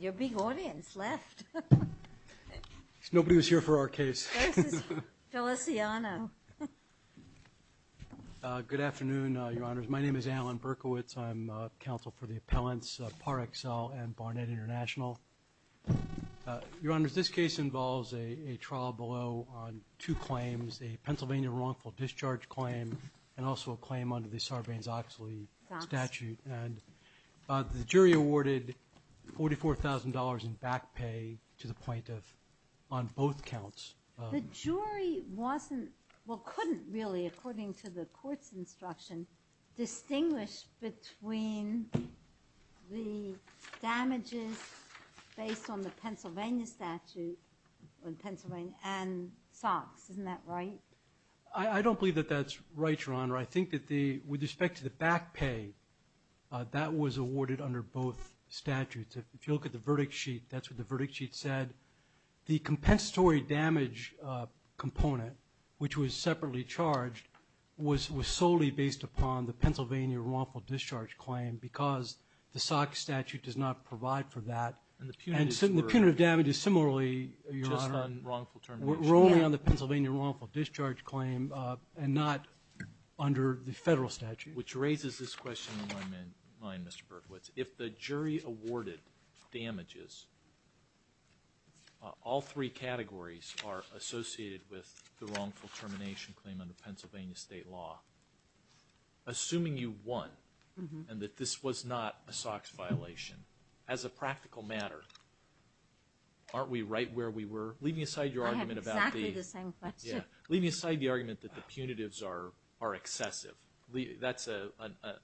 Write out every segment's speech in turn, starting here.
Your big audience left. Nobody was here for our case. Feliciano. Good afternoon, Your Honors. My name is Alan Berkowitz. I'm counsel for the appellants Parexel and Barnett International. Your Honors, this case involves a trial below on two claims, a Pennsylvania wrongful discharge claim and also a claim under the Sarbanes- in back pay to the point of on both counts. The jury wasn't, well couldn't really, according to the court's instruction, distinguish between the damages based on the Pennsylvania statute on Pennsylvania and SOX. Isn't that right? I don't believe that that's right, Your Honor. I think that the with that was awarded under both statutes. If you look at the verdict sheet, that's what the verdict sheet said. The compensatory damage component, which was separately charged, was solely based upon the Pennsylvania wrongful discharge claim because the SOX statute does not provide for that and the punitive damage is similarly, Your Honor, wrongful termination. We're only on the Pennsylvania wrongful discharge claim and not under the federal statute. Which raises this question in my mind, Mr. Berkowitz. If the jury awarded damages, all three categories are associated with the wrongful termination claim under Pennsylvania state law, assuming you won and that this was not a SOX violation, as a practical matter, aren't we right where we were? Leaving aside your argument about the- I have exactly the same question. Yeah, leaving aside the argument that the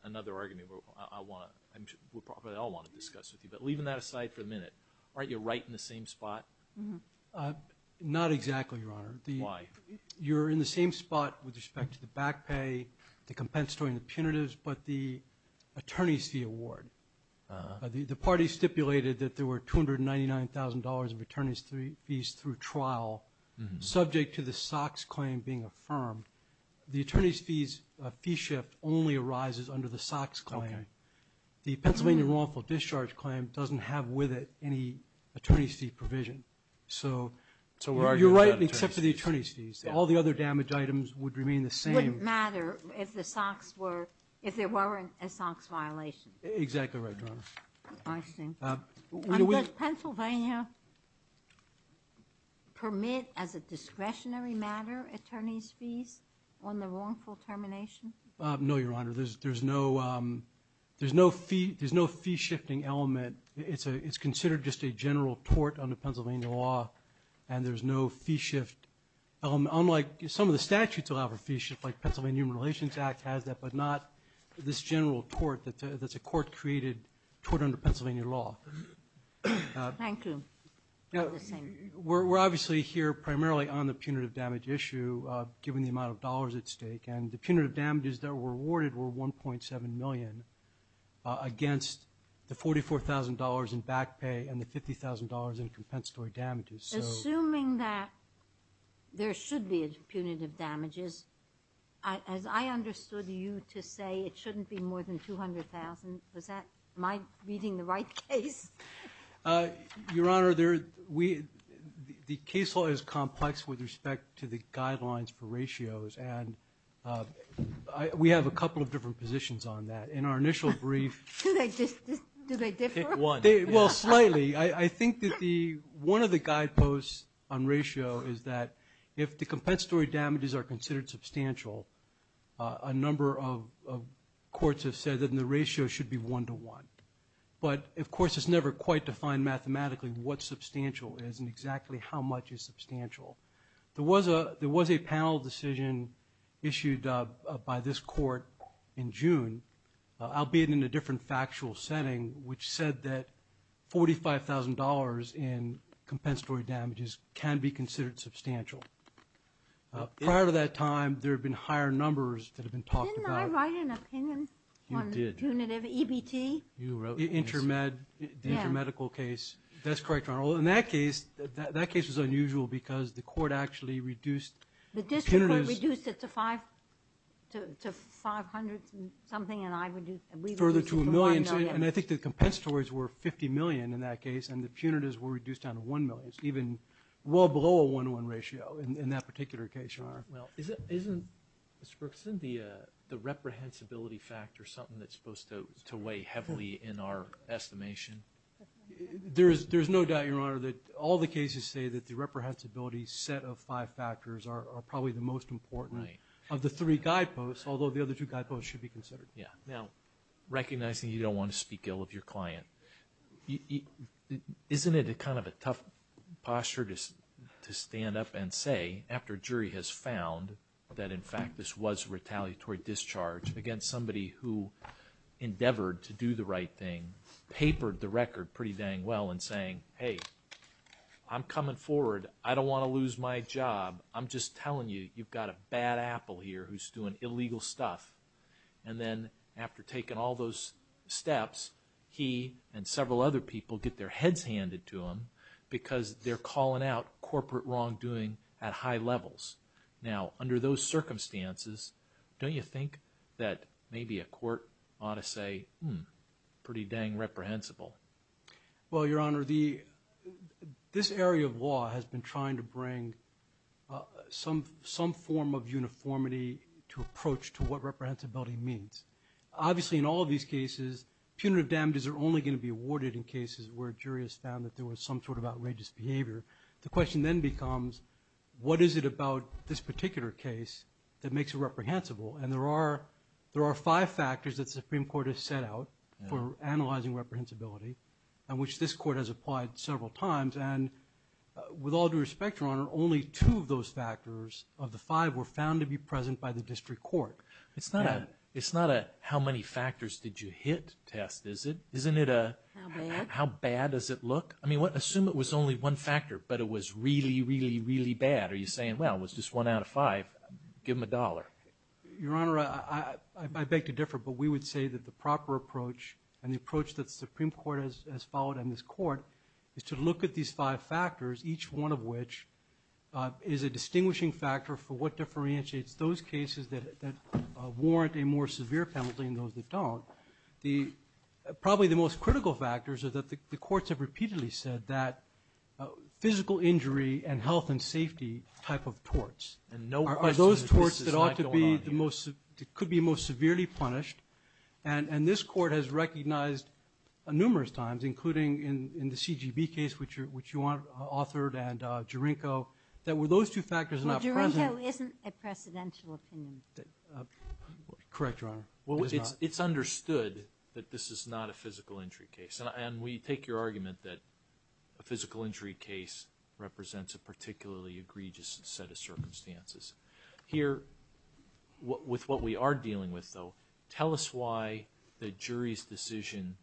another argument I want to discuss with you, but leaving that aside for a minute, aren't you right in the same spot? Not exactly, Your Honor. Why? You're in the same spot with respect to the back pay, the compensatory and the punitives, but the attorney's fee award. The party stipulated that there were $299,000 of attorney's fees through trial, subject to the SOX claim being under the SOX claim. The Pennsylvania wrongful discharge claim doesn't have with it any attorney's fee provision. So, you're right except for the attorney's fees. All the other damage items would remain the same. It wouldn't matter if the SOX were, if there weren't a SOX violation. Exactly right, Your Honor. I see. Does Pennsylvania permit as a discretionary matter attorney's fees on the wrongful termination? No, Your Honor. There's no fee-shifting element. It's considered just a general tort under Pennsylvania law, and there's no fee shift. Unlike some of the statutes allow for fee shift, like Pennsylvania Human Relations Act has that, but not this general tort that's a court-created tort under Pennsylvania law. Thank you. We're obviously here primarily on the punitive damage issue, given the amount of dollars at stake, and the punitive damages that were awarded were $1.7 million against the $44,000 in back pay and the $50,000 in compensatory damages. Assuming that there should be punitive damages, as I understood you to say, it shouldn't be more than $200,000. Was that my reading the right case? Your Honor, the case law is complex with respect to the guidelines for ratios, and we have a couple of different positions on that. In our initial brief, I think that one of the guideposts on ratio is that if the compensatory damages are considered substantial, a number of courts have said that the ratio should be one-to-one, but of course it's never quite defined mathematically what substantial is and exactly how much is substantial. There was a panel decision issued by this court in June, albeit in a different factual setting, which said that $45,000 in compensatory damages can be considered substantial. Prior to that time, there have been higher numbers that have been talked about. Didn't I write an opinion on punitive EBT? Intermedical case. That's correct, Your Honor. In that case, that case was unusual because the court actually reduced the punitives. The district court reduced it to $500,000 something, and I reduced it to $1,000,000. Further to a million, and I think the compensatories were $50,000,000 in that case, and the punitives were reduced down to $1,000,000, even well below a one-to-one ratio in that particular case, Your Honor. Well, isn't Mr. Brooks, isn't the reprehensibility factor something that's supposed to weigh heavily in our estimation? There is no doubt, Your Honor, that all the cases say that the reprehensibility set of five factors are probably the most important of the three guideposts, although the other two guideposts should be considered. Yeah. Now, recognizing you don't want to speak ill of your client, isn't it kind of a tough posture to stand up and say, after a jury has found that in fact this was retaliatory discharge against somebody who endeavored to do the right thing, papered the record pretty dang well in saying, hey, I'm coming forward. I don't want to lose my job. I'm just telling you, you've got a bad apple here who's doing illegal stuff. And then after taking all those steps, he and several other people get their heads handed to him because they're calling out corporate wrongdoing at high levels. Now, under those circumstances, don't you think that maybe a court ought to say, hmm, pretty dang reprehensible? Well, Your Honor, this area of law has been trying to bring some form of uniformity to approach to what reprehensibility means. Obviously, in all of these cases, punitive damages are only going to be awarded in cases where a jury has found that there was some sort of outrageous behavior. The question then becomes, what is it about this particular case that makes it so that there are five factors that the Supreme Court has set out for analyzing reprehensibility and which this Court has applied several times? And with all due respect, Your Honor, only two of those factors, of the five, were found to be present by the district court. It's not a how many factors did you hit test, is it? Isn't it a how bad does it look? I mean, assume it was only one factor, but it was really, really, really bad. Are you saying, well, it was just one out of five, give them a dollar? Your Honor, I beg to differ, but we would say that the proper approach, and the approach that the Supreme Court has followed, and this Court, is to look at these five factors, each one of which is a distinguishing factor for what differentiates those cases that warrant a more severe penalty than those that don't. Probably the most critical factors are that the courts have repeatedly said that physical injury and Are those torts that ought to be the most, could be most severely punished, and this Court has recognized numerous times, including in the CGB case, which you authored, and Jurinko, that were those two factors not present... Well, Jurinko isn't a precedential opinion. Correct, Your Honor. Well, it's understood that this is not a physical injury case, and we take your argument that a physical injury case represents a particularly egregious set of circumstances. Here, with what we are dealing with, though, tell us why the jury's decision,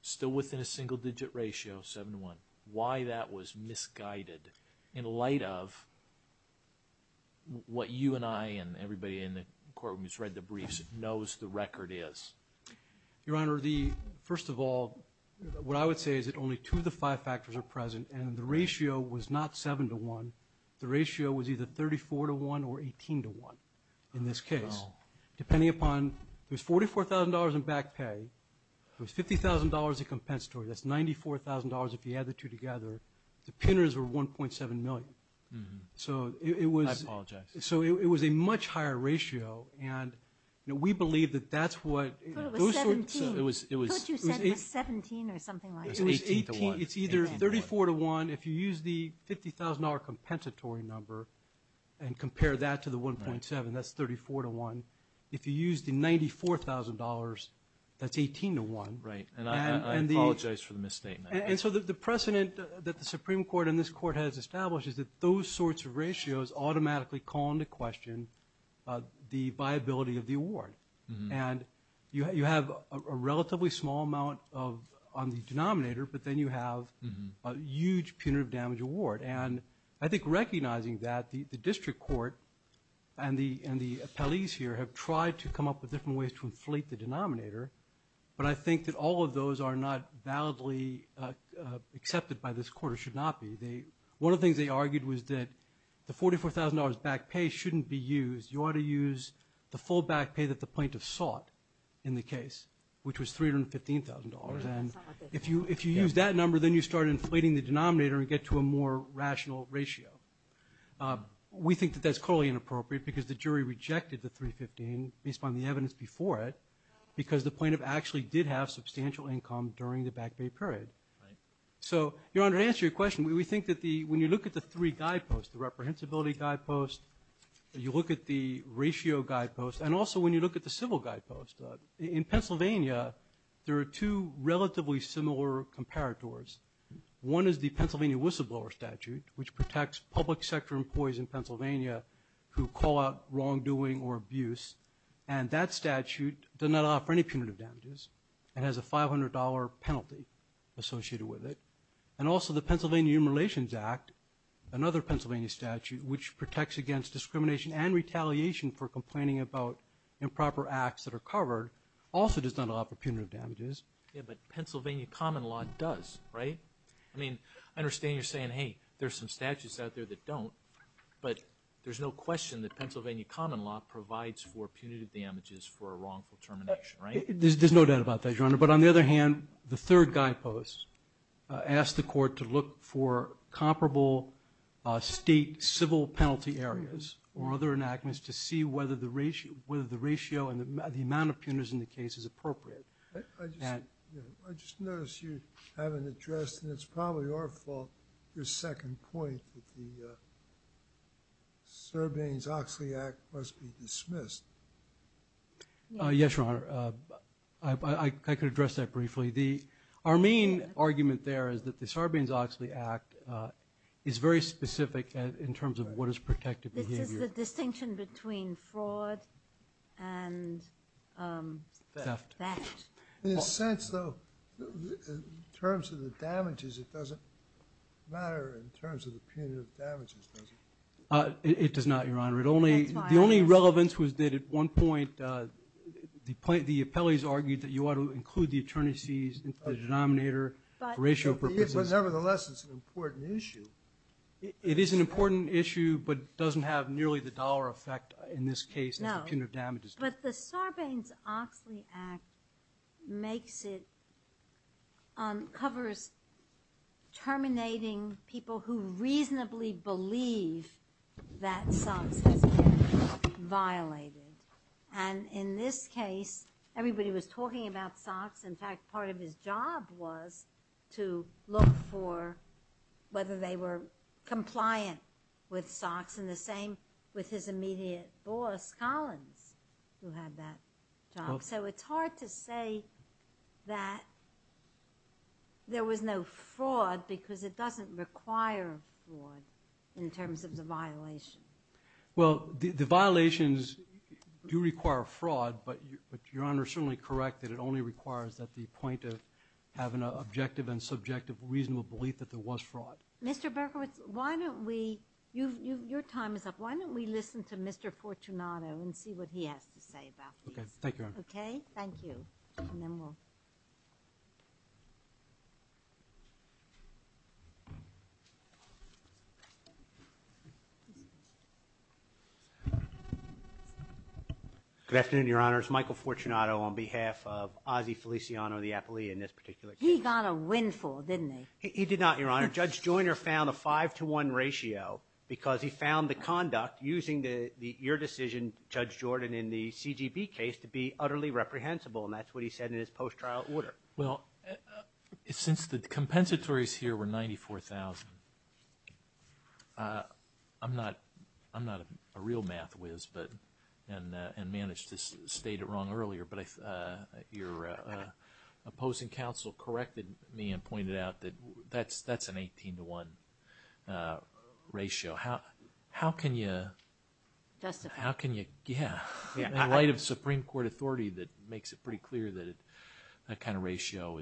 still within a single-digit ratio, seven to one, why that was misguided in light of what you and I, and everybody in the courtroom who's read the briefs, knows the record is. Your Honor, the, first of all, what I would say is that only two of the five factors are misguided. The ratio was not seven to one. The ratio was either 34 to one or 18 to one, in this case. Depending upon, there's $44,000 in back pay, there's $50,000 in compensatory, that's $94,000 if you add the two together, the pinners were 1.7 million. So it was... I apologize. So it was a much higher ratio, and we believe that that's what... But it was 17. Don't you say it was 17 or something like that? It's either 34 to one, if you use the $50,000 compensatory number and compare that to the 1.7, that's 34 to one. If you use the $94,000, that's 18 to one. Right, and I apologize for the misstatement. And so the precedent that the Supreme Court and this court has established is that those sorts of ratios automatically call into question the viability of the award. And you have a relatively small amount of, on the record, damage award. And I think recognizing that, the district court and the appellees here have tried to come up with different ways to inflate the denominator, but I think that all of those are not validly accepted by this court, or should not be. One of the things they argued was that the $44,000 back pay shouldn't be used. You ought to use the full back pay that the plaintiff sought in the case, which was $315,000. And if you use that number, then you get to a more rational ratio. We think that that's totally inappropriate because the jury rejected the $315,000 based on the evidence before it, because the plaintiff actually did have substantial income during the back pay period. So, Your Honor, to answer your question, we think that the, when you look at the three guideposts, the reprehensibility guidepost, you look at the ratio guidepost, and also when you look at the civil guidepost, in Pennsylvania, there are two relatively similar comparators. One is the Pennsylvania whistleblower statute, which protects public sector employees in Pennsylvania who call out wrongdoing or abuse, and that statute does not offer any punitive damages. It has a $500 penalty associated with it. And also, the Pennsylvania Human Relations Act, another Pennsylvania statute, which protects against discrimination and retaliation for complaining about improper acts that are covered, also does not offer punitive damages. Yeah, but Pennsylvania common law does, right? I mean, I understand you're saying, hey, there's some statutes out there that don't, but there's no question that Pennsylvania common law provides for punitive damages for a wrongful termination, right? There's no doubt about that, Your Honor. But on the other hand, the third guidepost asks the court to look for comparable state civil penalty areas or other enactments to see whether the ratio and the amount of cases appropriate. I just noticed you haven't addressed, and it's probably our fault, your second point that the Sarbanes-Oxley Act must be dismissed. Yes, Your Honor. I could address that briefly. Our main argument there is that the Sarbanes-Oxley Act is very specific in terms of what is protected behavior. This is the distinction between fraud and theft. In a sense, though, in terms of the damages, it doesn't matter in terms of the punitive damages, does it? It does not, Your Honor. The only relevance was that at one point, the appellees argued that you ought to include the attorneys' fees into the denominator for ratio purposes. But nevertheless, it's an important issue. It is an important issue, but doesn't have nearly the dollar effect in this case as the punitive damages do. No. But the Sarbanes-Oxley Act makes it, covers terminating people who reasonably believe that SOX has been violated. And in this case, everybody was talking about SOX. In fact, part of his job was to look for whether they were compliant with SOX, and the same with his immediate boss, Collins, who had that job. So it's hard to say that there was no fraud because it doesn't require fraud in terms of the violation. Well, the violations do require fraud, but Your Honor is certainly correct that it only requires at the point of having an objective and subjective reasonable belief that there was fraud. Mr. Berkowitz, why don't we, your time is up, why don't we listen to Mr. Fortunato and see what he has to say about this. Okay. Thank you, Your Honor. Okay? Thank you. Good afternoon, Your Honors. Michael Fortunato on behalf of Ossie Feliciano of the appellee in this particular case. He got a windfall, didn't he? He did not, Your Honor. Judge Joyner found a 5-to-1 ratio because he found the conduct using your decision, Judge Jordan, in the CGB case to be utterly reprehensible, and that's what he said in his post-trial order. Well, since the compensatories here were $94,000, I'm not a real math whiz and managed to state it wrong earlier, but your opposing counsel corrected me and pointed out that that's an 18-to-1 ratio. How can you, in light of Supreme Court authority that makes it pretty clear that that kind of ratio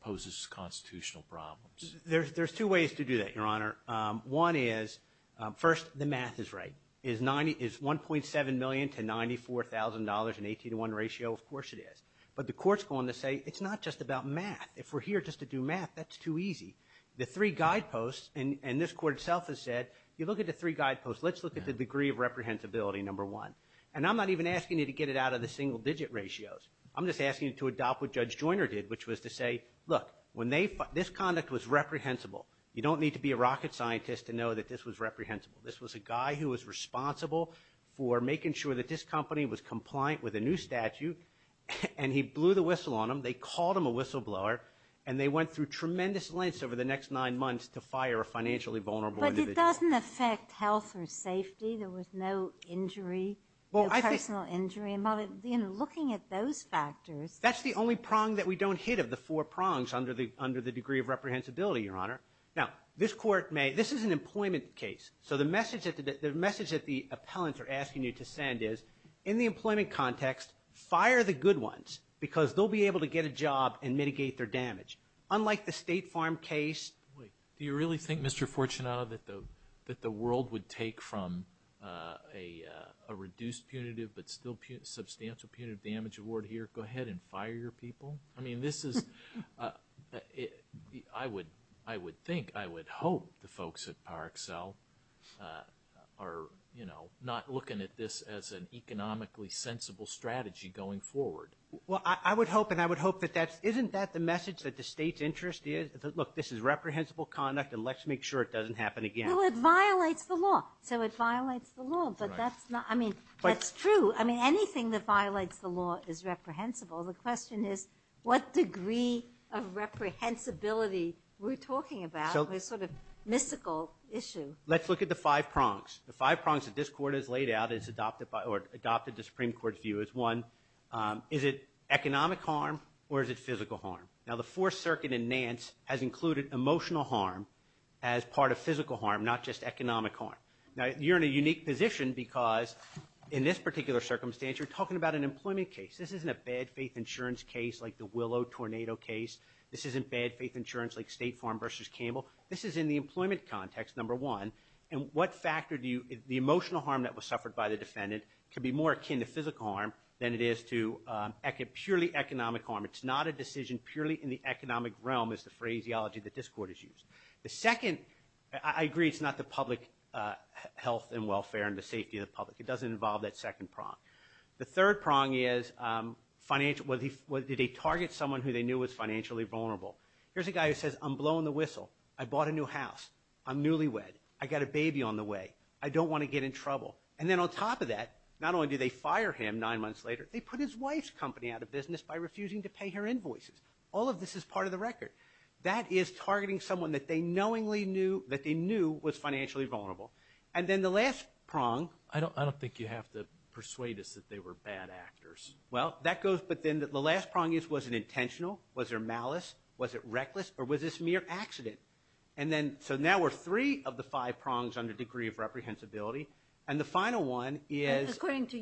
poses constitutional problems? There's two ways to do that, Your Honor. One is, first, the math is right. Is $1.7 million to $94,000 an 18-to-1 ratio? Of course it is. But the court's going to say it's not just about math. If we're here just to do math, that's too easy. The three guideposts, and this court itself has said, you look at the three guideposts. Let's look at the degree of reprehensibility, number one. And I'm not even asking you to get it out of the single-digit ratios. I'm just asking you to adopt what Judge Joyner did, which was to say, look, this conduct was reprehensible. You don't need to be a rocket scientist to know that this was reprehensible. This was a guy who was responsible for making sure that this company was compliant with a new statute, and he blew the whistle on them. They called him a whistleblower, and they went through tremendous lengths over the next nine months to fire a financially vulnerable individual. But it doesn't affect health or safety. There was no injury, no personal injury. Looking at those factors. That's the only prong that we don't hit of the four prongs under the degree of reprehensibility, Your Honor. Now, this court may – this is an employment case. So the message that the appellants are asking you to send is, in the employment context, fire the good ones because they'll be able to get a job and mitigate their damage. Unlike the State Farm case. Do you really think, Mr. Fortunato, that the world would take from a reduced punitive but still substantial punitive damage award here? Go ahead and fire your people. I mean, this is – I would think, I would hope the folks at PowerXL are, you know, not looking at this as an economically sensible strategy going forward. Well, I would hope, and I would hope that that's – isn't that the message that the State's interest is? Look, this is reprehensible conduct and let's make sure it doesn't happen again. Well, it violates the law. So it violates the law, but that's not – I mean, that's true. I mean, anything that violates the law is reprehensible. The question is what degree of reprehensibility we're talking about. It's sort of a mystical issue. Let's look at the five prongs. The five prongs that this court has laid out is adopted by – or adopted the Supreme Court's view as one. Is it economic harm or is it physical harm? Now, the Fourth Circuit in Nance has included emotional harm as part of physical harm, not just economic harm. Now, you're in a unique position because in this particular circumstance, you're talking about an employment case. This isn't a bad faith insurance case like the Willow tornado case. This isn't bad faith insurance like State Farm versus Campbell. This is in the employment context, number one. And what factor do you – the emotional harm that was suffered by the defendant could be more akin to physical harm than it is to purely economic harm. It's not a decision purely in the economic realm is the phraseology that this court has used. The second – I agree it's not the public health and welfare and the safety of the public. It doesn't involve that second prong. The third prong is financial – did they target someone who they knew was financially vulnerable? Here's a guy who says, I'm blowing the whistle. I bought a new house. I'm newlywed. I got a baby on the way. I don't want to get in trouble. And then on top of that, not only do they fire him nine months later, they put his wife's company out of business by refusing to pay her invoices. All of this is part of the record. That is targeting someone that they knowingly knew – that they knew was financially vulnerable. And then the last prong – I don't think you have to persuade us that they were bad actors. Well, that goes – but then the last prong is was it intentional? Was there malice? Was it reckless? Or was this mere accident? And then – so now we're three of the five prongs on the degree of reprehensibility. And the final one is –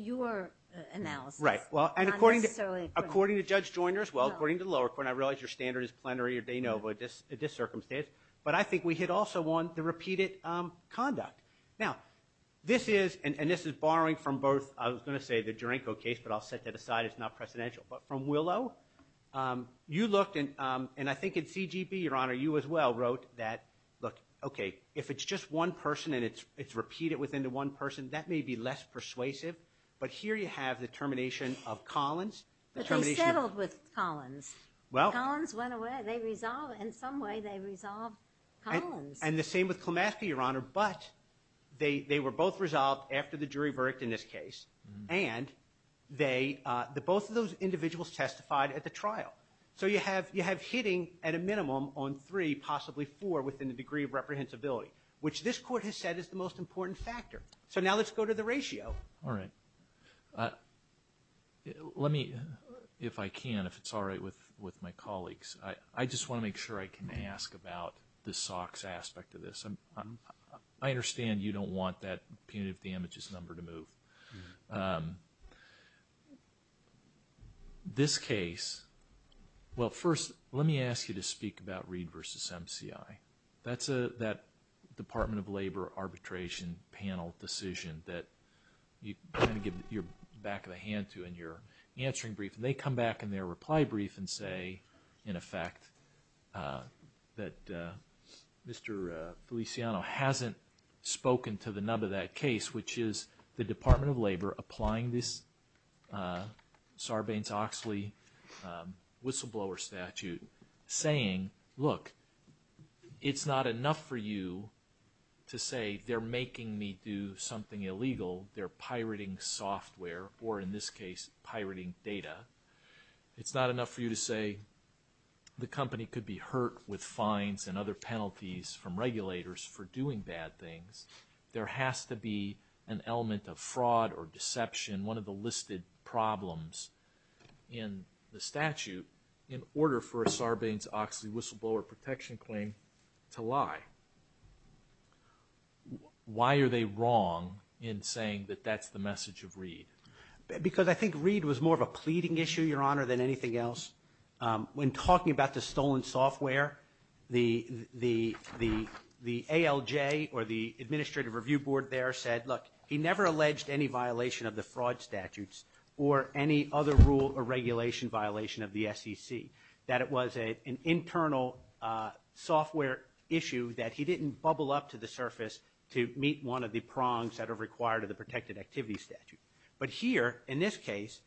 Well, and according to Judge Joyner as well, according to the lower court, and I realize your standard is plenary or de novo at this circumstance, but I think we had also won the repeated conduct. Now, this is – and this is borrowing from both – I was going to say the Duranko case, but I'll set that aside. It's not precedential. But from Willow, you looked – and I think in CGB, Your Honor, you as well wrote that, look, okay, if it's just one person and it's repeated within the one person, that may be less persuasive. But here you have the termination of Collins, the termination of – But they settled with Collins. Well – Collins went away. They resolved – in some way they resolved Collins. And the same with Klimaska, Your Honor, but they were both resolved after the jury worked in this case. And they – both of those individuals testified at the trial. So you have hitting at a minimum on three, possibly four, within the degree of reprehensibility, which this court has said is the most important factor. So now let's go to the ratio. All right. Let me, if I can, if it's all right with my colleagues, I just want to make sure I can ask about the SOX aspect of this. I understand you don't want that punitive damages number to move. This case – well, first, let me ask you to speak about Reed v. MCI. That's that Department of Labor arbitration panel decision that you kind of give your back of the hand to in your answering brief. And they come back in their reply brief and say, in effect, that Mr. Feliciano hasn't spoken to the nub of that case, which is the Department of Labor applying this Sarbanes-Oxley whistleblower statute, saying, look, it's not enough for you to say they're making me do something illegal. They're pirating software or, in this case, pirating data. It's not enough for you to say the company could be hurt with fines and other penalties from regulators for doing bad things. There has to be an element of fraud or deception, and one of the listed problems in the statute, in order for a Sarbanes-Oxley whistleblower protection claim to lie. Why are they wrong in saying that that's the message of Reed? Because I think Reed was more of a pleading issue, Your Honor, than anything else. When talking about the stolen software, the ALJ or the administrative review board there said, look, he never alleged any violation of the fraud statutes or any other rule or regulation violation of the SEC, that it was an internal software issue that he didn't bubble up to the surface to meet one of the prongs that are required of the protected activity statute. But here, in this case,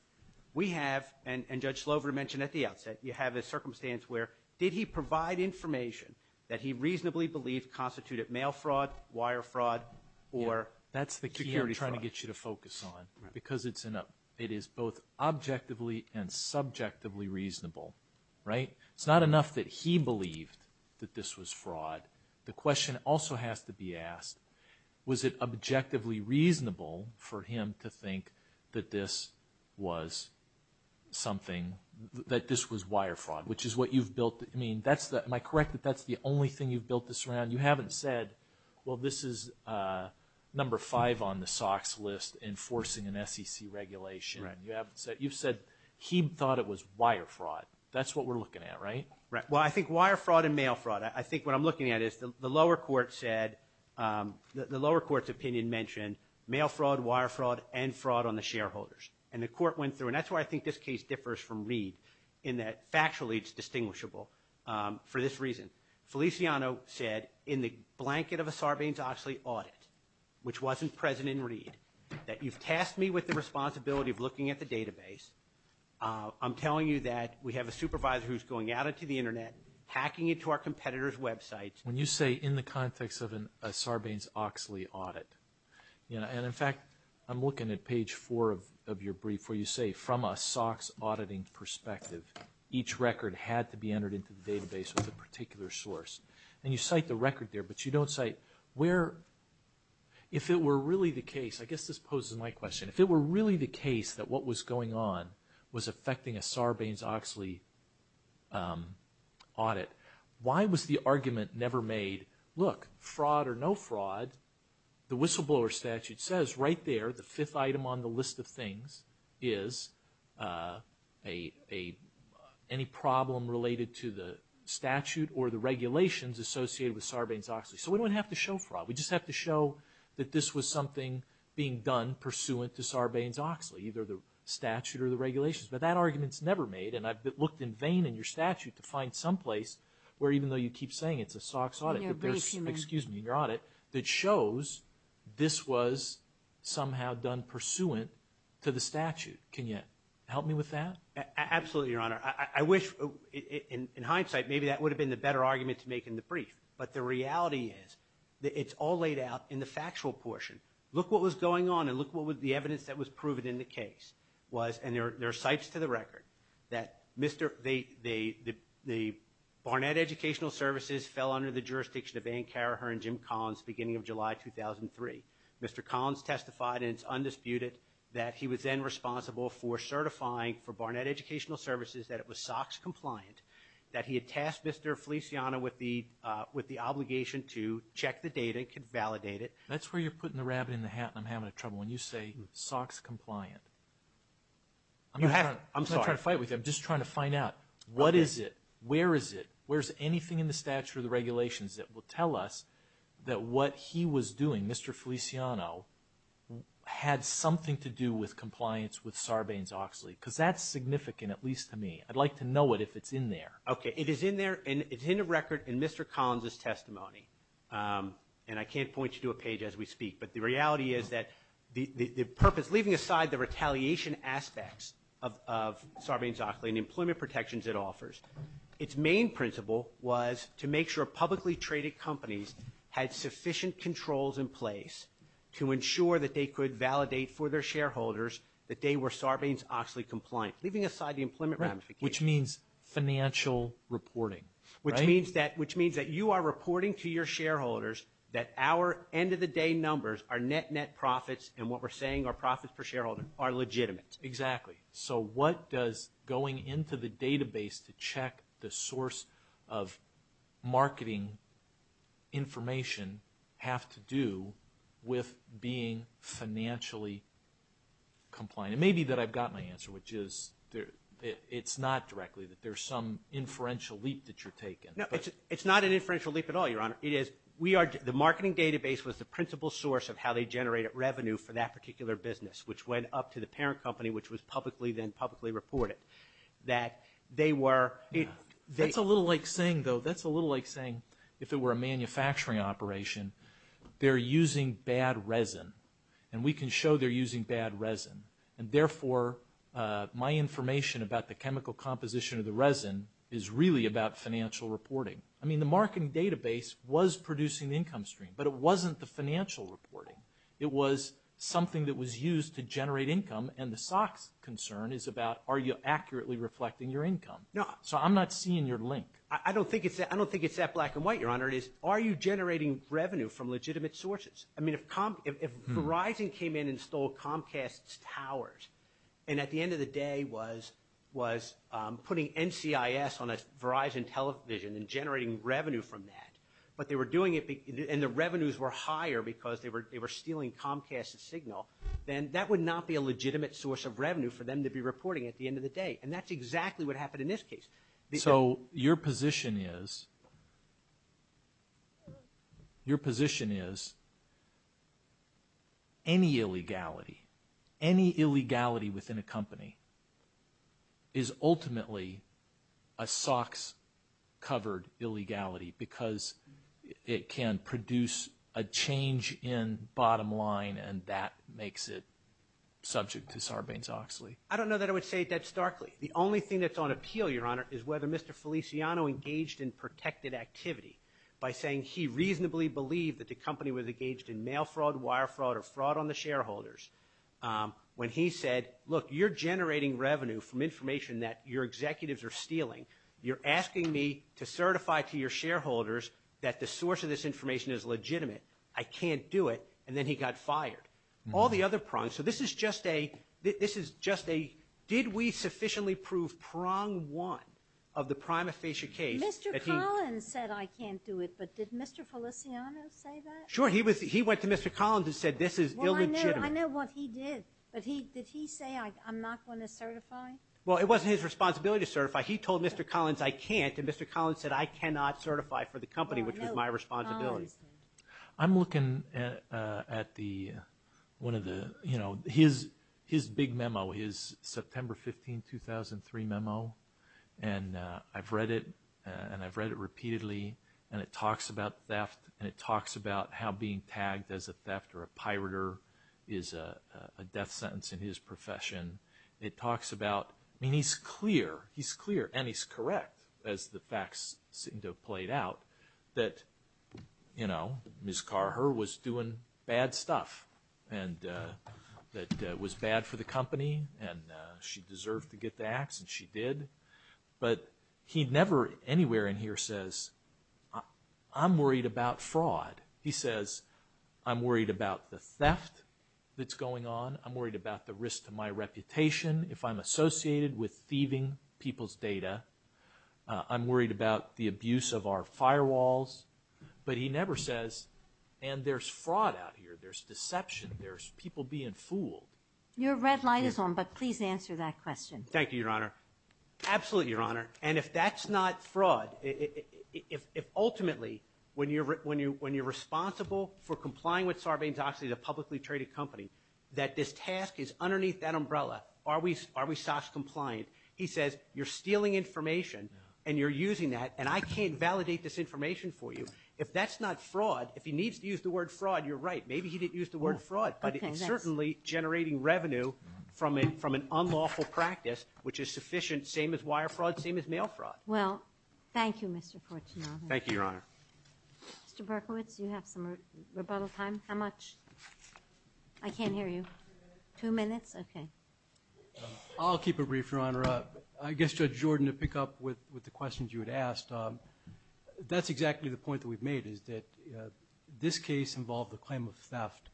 we have, and Judge Slover mentioned at the outset, you have a circumstance where did he provide information that he reasonably believed to constitute mail fraud, wire fraud, or security fraud. That's the key I'm trying to get you to focus on, because it is both objectively and subjectively reasonable. It's not enough that he believed that this was fraud. The question also has to be asked, was it objectively reasonable for him to think that this was wire fraud, which is what you've built. I mean, am I correct that that's the only thing you've built this around? You haven't said, well, this is number five on the SOX list, enforcing an SEC regulation. You haven't said, you've said he thought it was wire fraud. That's what we're looking at, right? Well, I think wire fraud and mail fraud, I think what I'm looking at is the lower court said, the lower court's opinion mentioned mail fraud, wire fraud, and fraud on the shareholders. And the court went through, and that's why I think this case differs from Reed, in that factually it's distinguishable for this reason. Feliciano said in the blanket of a Sarbanes-Oxley audit, which wasn't present in Reed, that you've tasked me with the responsibility of looking at the database. I'm telling you that we have a supervisor who's going out into the Internet, hacking into our competitors' websites. When you say in the context of a Sarbanes-Oxley audit, and, in fact, I'm looking at page four of your brief where you say, from a SOX auditing perspective, each record had to be entered into the database with a particular source. And you cite the record there, but you don't cite where, if it were really the case, I guess this poses my question, if it were really the case that what was going on was affecting a Sarbanes-Oxley audit, why was the argument never made, look, fraud or no fraud, the whistleblower statute says right there, the fifth item on the list of things is any problem related to the statute or the regulations associated with Sarbanes-Oxley. So we don't have to show fraud. We just have to show that this was something being done pursuant to Sarbanes-Oxley, either the statute or the regulations. But that argument's never made, and I've looked in vain in your statute to find someplace where, even though you keep saying it's a SOX audit, excuse me, your audit, that shows this was somehow done pursuant to the statute. Can you help me with that? Absolutely, Your Honor. I wish, in hindsight, maybe that would have been the better argument to make in the brief, but the reality is that it's all laid out in the factual portion. Look what was going on, and look what the evidence that was proven in the case was, and there are cites to the record, that Barnett Educational Services fell under the jurisdiction of Ann Carraher and Jim Collins beginning of July 2003. Mr. Collins testified, and it's undisputed, that he was then responsible for certifying for Barnett Educational Services that it was SOX compliant, that he had tasked Mr. Feliciano with the obligation to check the data and validate it. That's where you're putting the rabbit in the hat, and I'm having trouble. When you say SOX compliant, I'm not trying to fight with you. I'm just trying to find out what is it, where is it, where is anything in the statute or the regulations that will tell us that what he was doing, Mr. Feliciano, had something to do with compliance with Sarbanes-Oxley, because that's significant, at least to me. I'd like to know it if it's in there. Okay, it is in there, and it's in the record in Mr. Collins' testimony, and I can't point you to a page as we speak, but the reality is that the purpose, leaving aside the retaliation aspects of Sarbanes-Oxley and the employment protections it offers, its main principle was to make sure publicly traded companies had sufficient controls in place to ensure that they could validate for their shareholders that they were Sarbanes-Oxley compliant, leaving aside the employment ramifications. Which means financial reporting, right? Which means that you are reporting to your shareholders that our end-of-the-day numbers, our net net profits, and what we're saying are profits per shareholder, are legitimate. Exactly. So what does going into the database to check the source of marketing information have to do with being financially compliant? It may be that I've got my answer, which is it's not directly, that there's some inferential leap that you're taking. No, it's not an inferential leap at all, Your Honor. The marketing database was the principal source of how they generated revenue for that particular business, which went up to the parent company, which was publicly then publicly reported. That they were... That's a little like saying, though, that's a little like saying if it were a manufacturing operation, they're using bad resin, and we can show they're using bad resin, and therefore my information about the chemical composition of the resin is really about financial reporting. I mean, the marketing database was producing the income stream, but it wasn't the financial reporting. It was something that was used to generate income, and the SOX concern is about are you accurately reflecting your income? No. So I'm not seeing your link. I don't think it's that black and white, Your Honor. It's are you generating revenue from legitimate sources? I mean, if Verizon came in and stole Comcast's towers, and at the end of the day was putting NCIS on a Verizon television and generating revenue from that, but they were doing it, and the revenues were higher because they were stealing Comcast's signal, then that would not be a legitimate source of revenue for them to be reporting at the end of the day, and that's exactly what happened in this case. So your position is any illegality, any illegality within a company is ultimately a SOX-covered illegality because it can produce a change in bottom line, and that makes it subject to Sarbanes-Oxley? I don't know that I would say it that starkly. The only thing that's on appeal, Your Honor, is whether Mr. Feliciano engaged in protected activity by saying he reasonably believed that the company was engaged in mail fraud, wire fraud, or fraud on the shareholders when he said, look, you're generating revenue from information that your executives are stealing. You're asking me to certify to your shareholders that the source of this information is legitimate. I can't do it, and then he got fired. So this is just a did we sufficiently prove prong one of the prima facie case. Mr. Collins said I can't do it, but did Mr. Feliciano say that? Sure. He went to Mr. Collins and said this is illegitimate. Well, I know what he did, but did he say I'm not going to certify? Well, it wasn't his responsibility to certify. He told Mr. Collins I can't, and Mr. Collins said I cannot certify for the company, which was my responsibility. I'm looking at one of the, you know, his big memo, his September 15, 2003 memo, and I've read it, and I've read it repeatedly, and it talks about theft, and it talks about how being tagged as a theft or a pirater is a death sentence in his profession. It talks about, I mean, he's clear, he's clear, and he's correct, as the facts seem to have played out, that, you know, Ms. Carher was doing bad stuff that was bad for the company, and she deserved to get the ax, and she did, but he never anywhere in here says I'm worried about fraud. He says I'm worried about the theft that's going on. I'm worried about the risk to my reputation if I'm associated with thieving people's data. I'm worried about the abuse of our firewalls, but he never says, and there's fraud out here. There's deception. There's people being fooled. Your red light is on, but please answer that question. Thank you, Your Honor. Absolutely, Your Honor, and if that's not fraud, if ultimately when you're responsible for complying with Sarbanes-Oxley, the publicly traded company, that this task is underneath that umbrella, are we SOX compliant? He says you're stealing information, and you're using that, and I can't validate this information for you. If that's not fraud, if he needs to use the word fraud, you're right. Maybe he didn't use the word fraud, but it's certainly generating revenue from an unlawful practice, which is sufficient, same as wire fraud, same as mail fraud. Well, thank you, Mr. Porciano. Thank you, Your Honor. Mr. Berkowitz, do you have some rebuttal time? How much? I can't hear you. Two minutes. Two minutes? Okay. I'll keep it brief, Your Honor. I guess, Judge Jordan, to pick up with the questions you had asked, that's exactly the point that we've made, is that this case involved the claim of theft.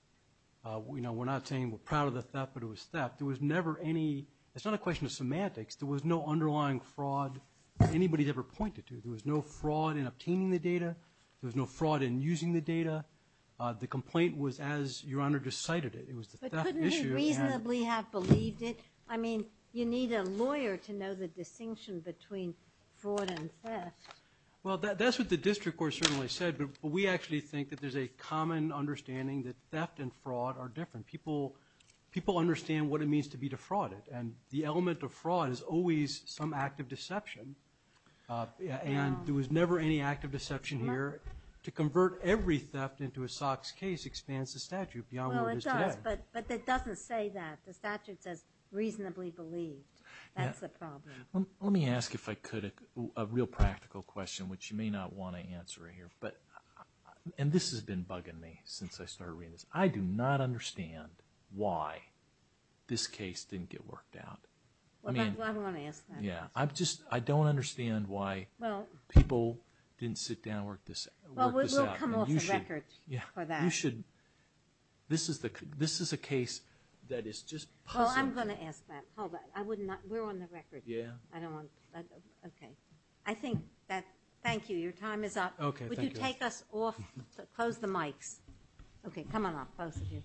You know, we're not saying we're proud of the theft, but it was theft. There was never any ñ it's not a question of semantics. There was no underlying fraud that anybody had ever pointed to. There was no fraud in obtaining the data. There was no fraud in using the data. The complaint was as Your Honor just cited it. It was the theft issue. But couldn't you reasonably have believed it? I mean, you need a lawyer to know the distinction between fraud and theft. Well, that's what the district court certainly said, but we actually think that there's a common understanding that theft and fraud are different. People understand what it means to be defrauded, and the element of fraud is always some act of deception, and there was never any act of deception here. To convert every theft into a SOX case expands the statute beyond what it is today. But it doesn't say that. The statute says reasonably believed. That's the problem. Let me ask if I could a real practical question, which you may not want to answer here. And this has been bugging me since I started reading this. I do not understand why this case didn't get worked out. Well, I don't want to ask that. I don't understand why people didn't sit down and work this out. Well, we'll come off the record for that. This is a case that is just puzzling. Well, I'm going to ask that. We're on the record. Yeah. Okay. Thank you. Your time is up. Okay, thank you. Would you take us off? Close the mics. Okay, come on off, both of you. Thank you.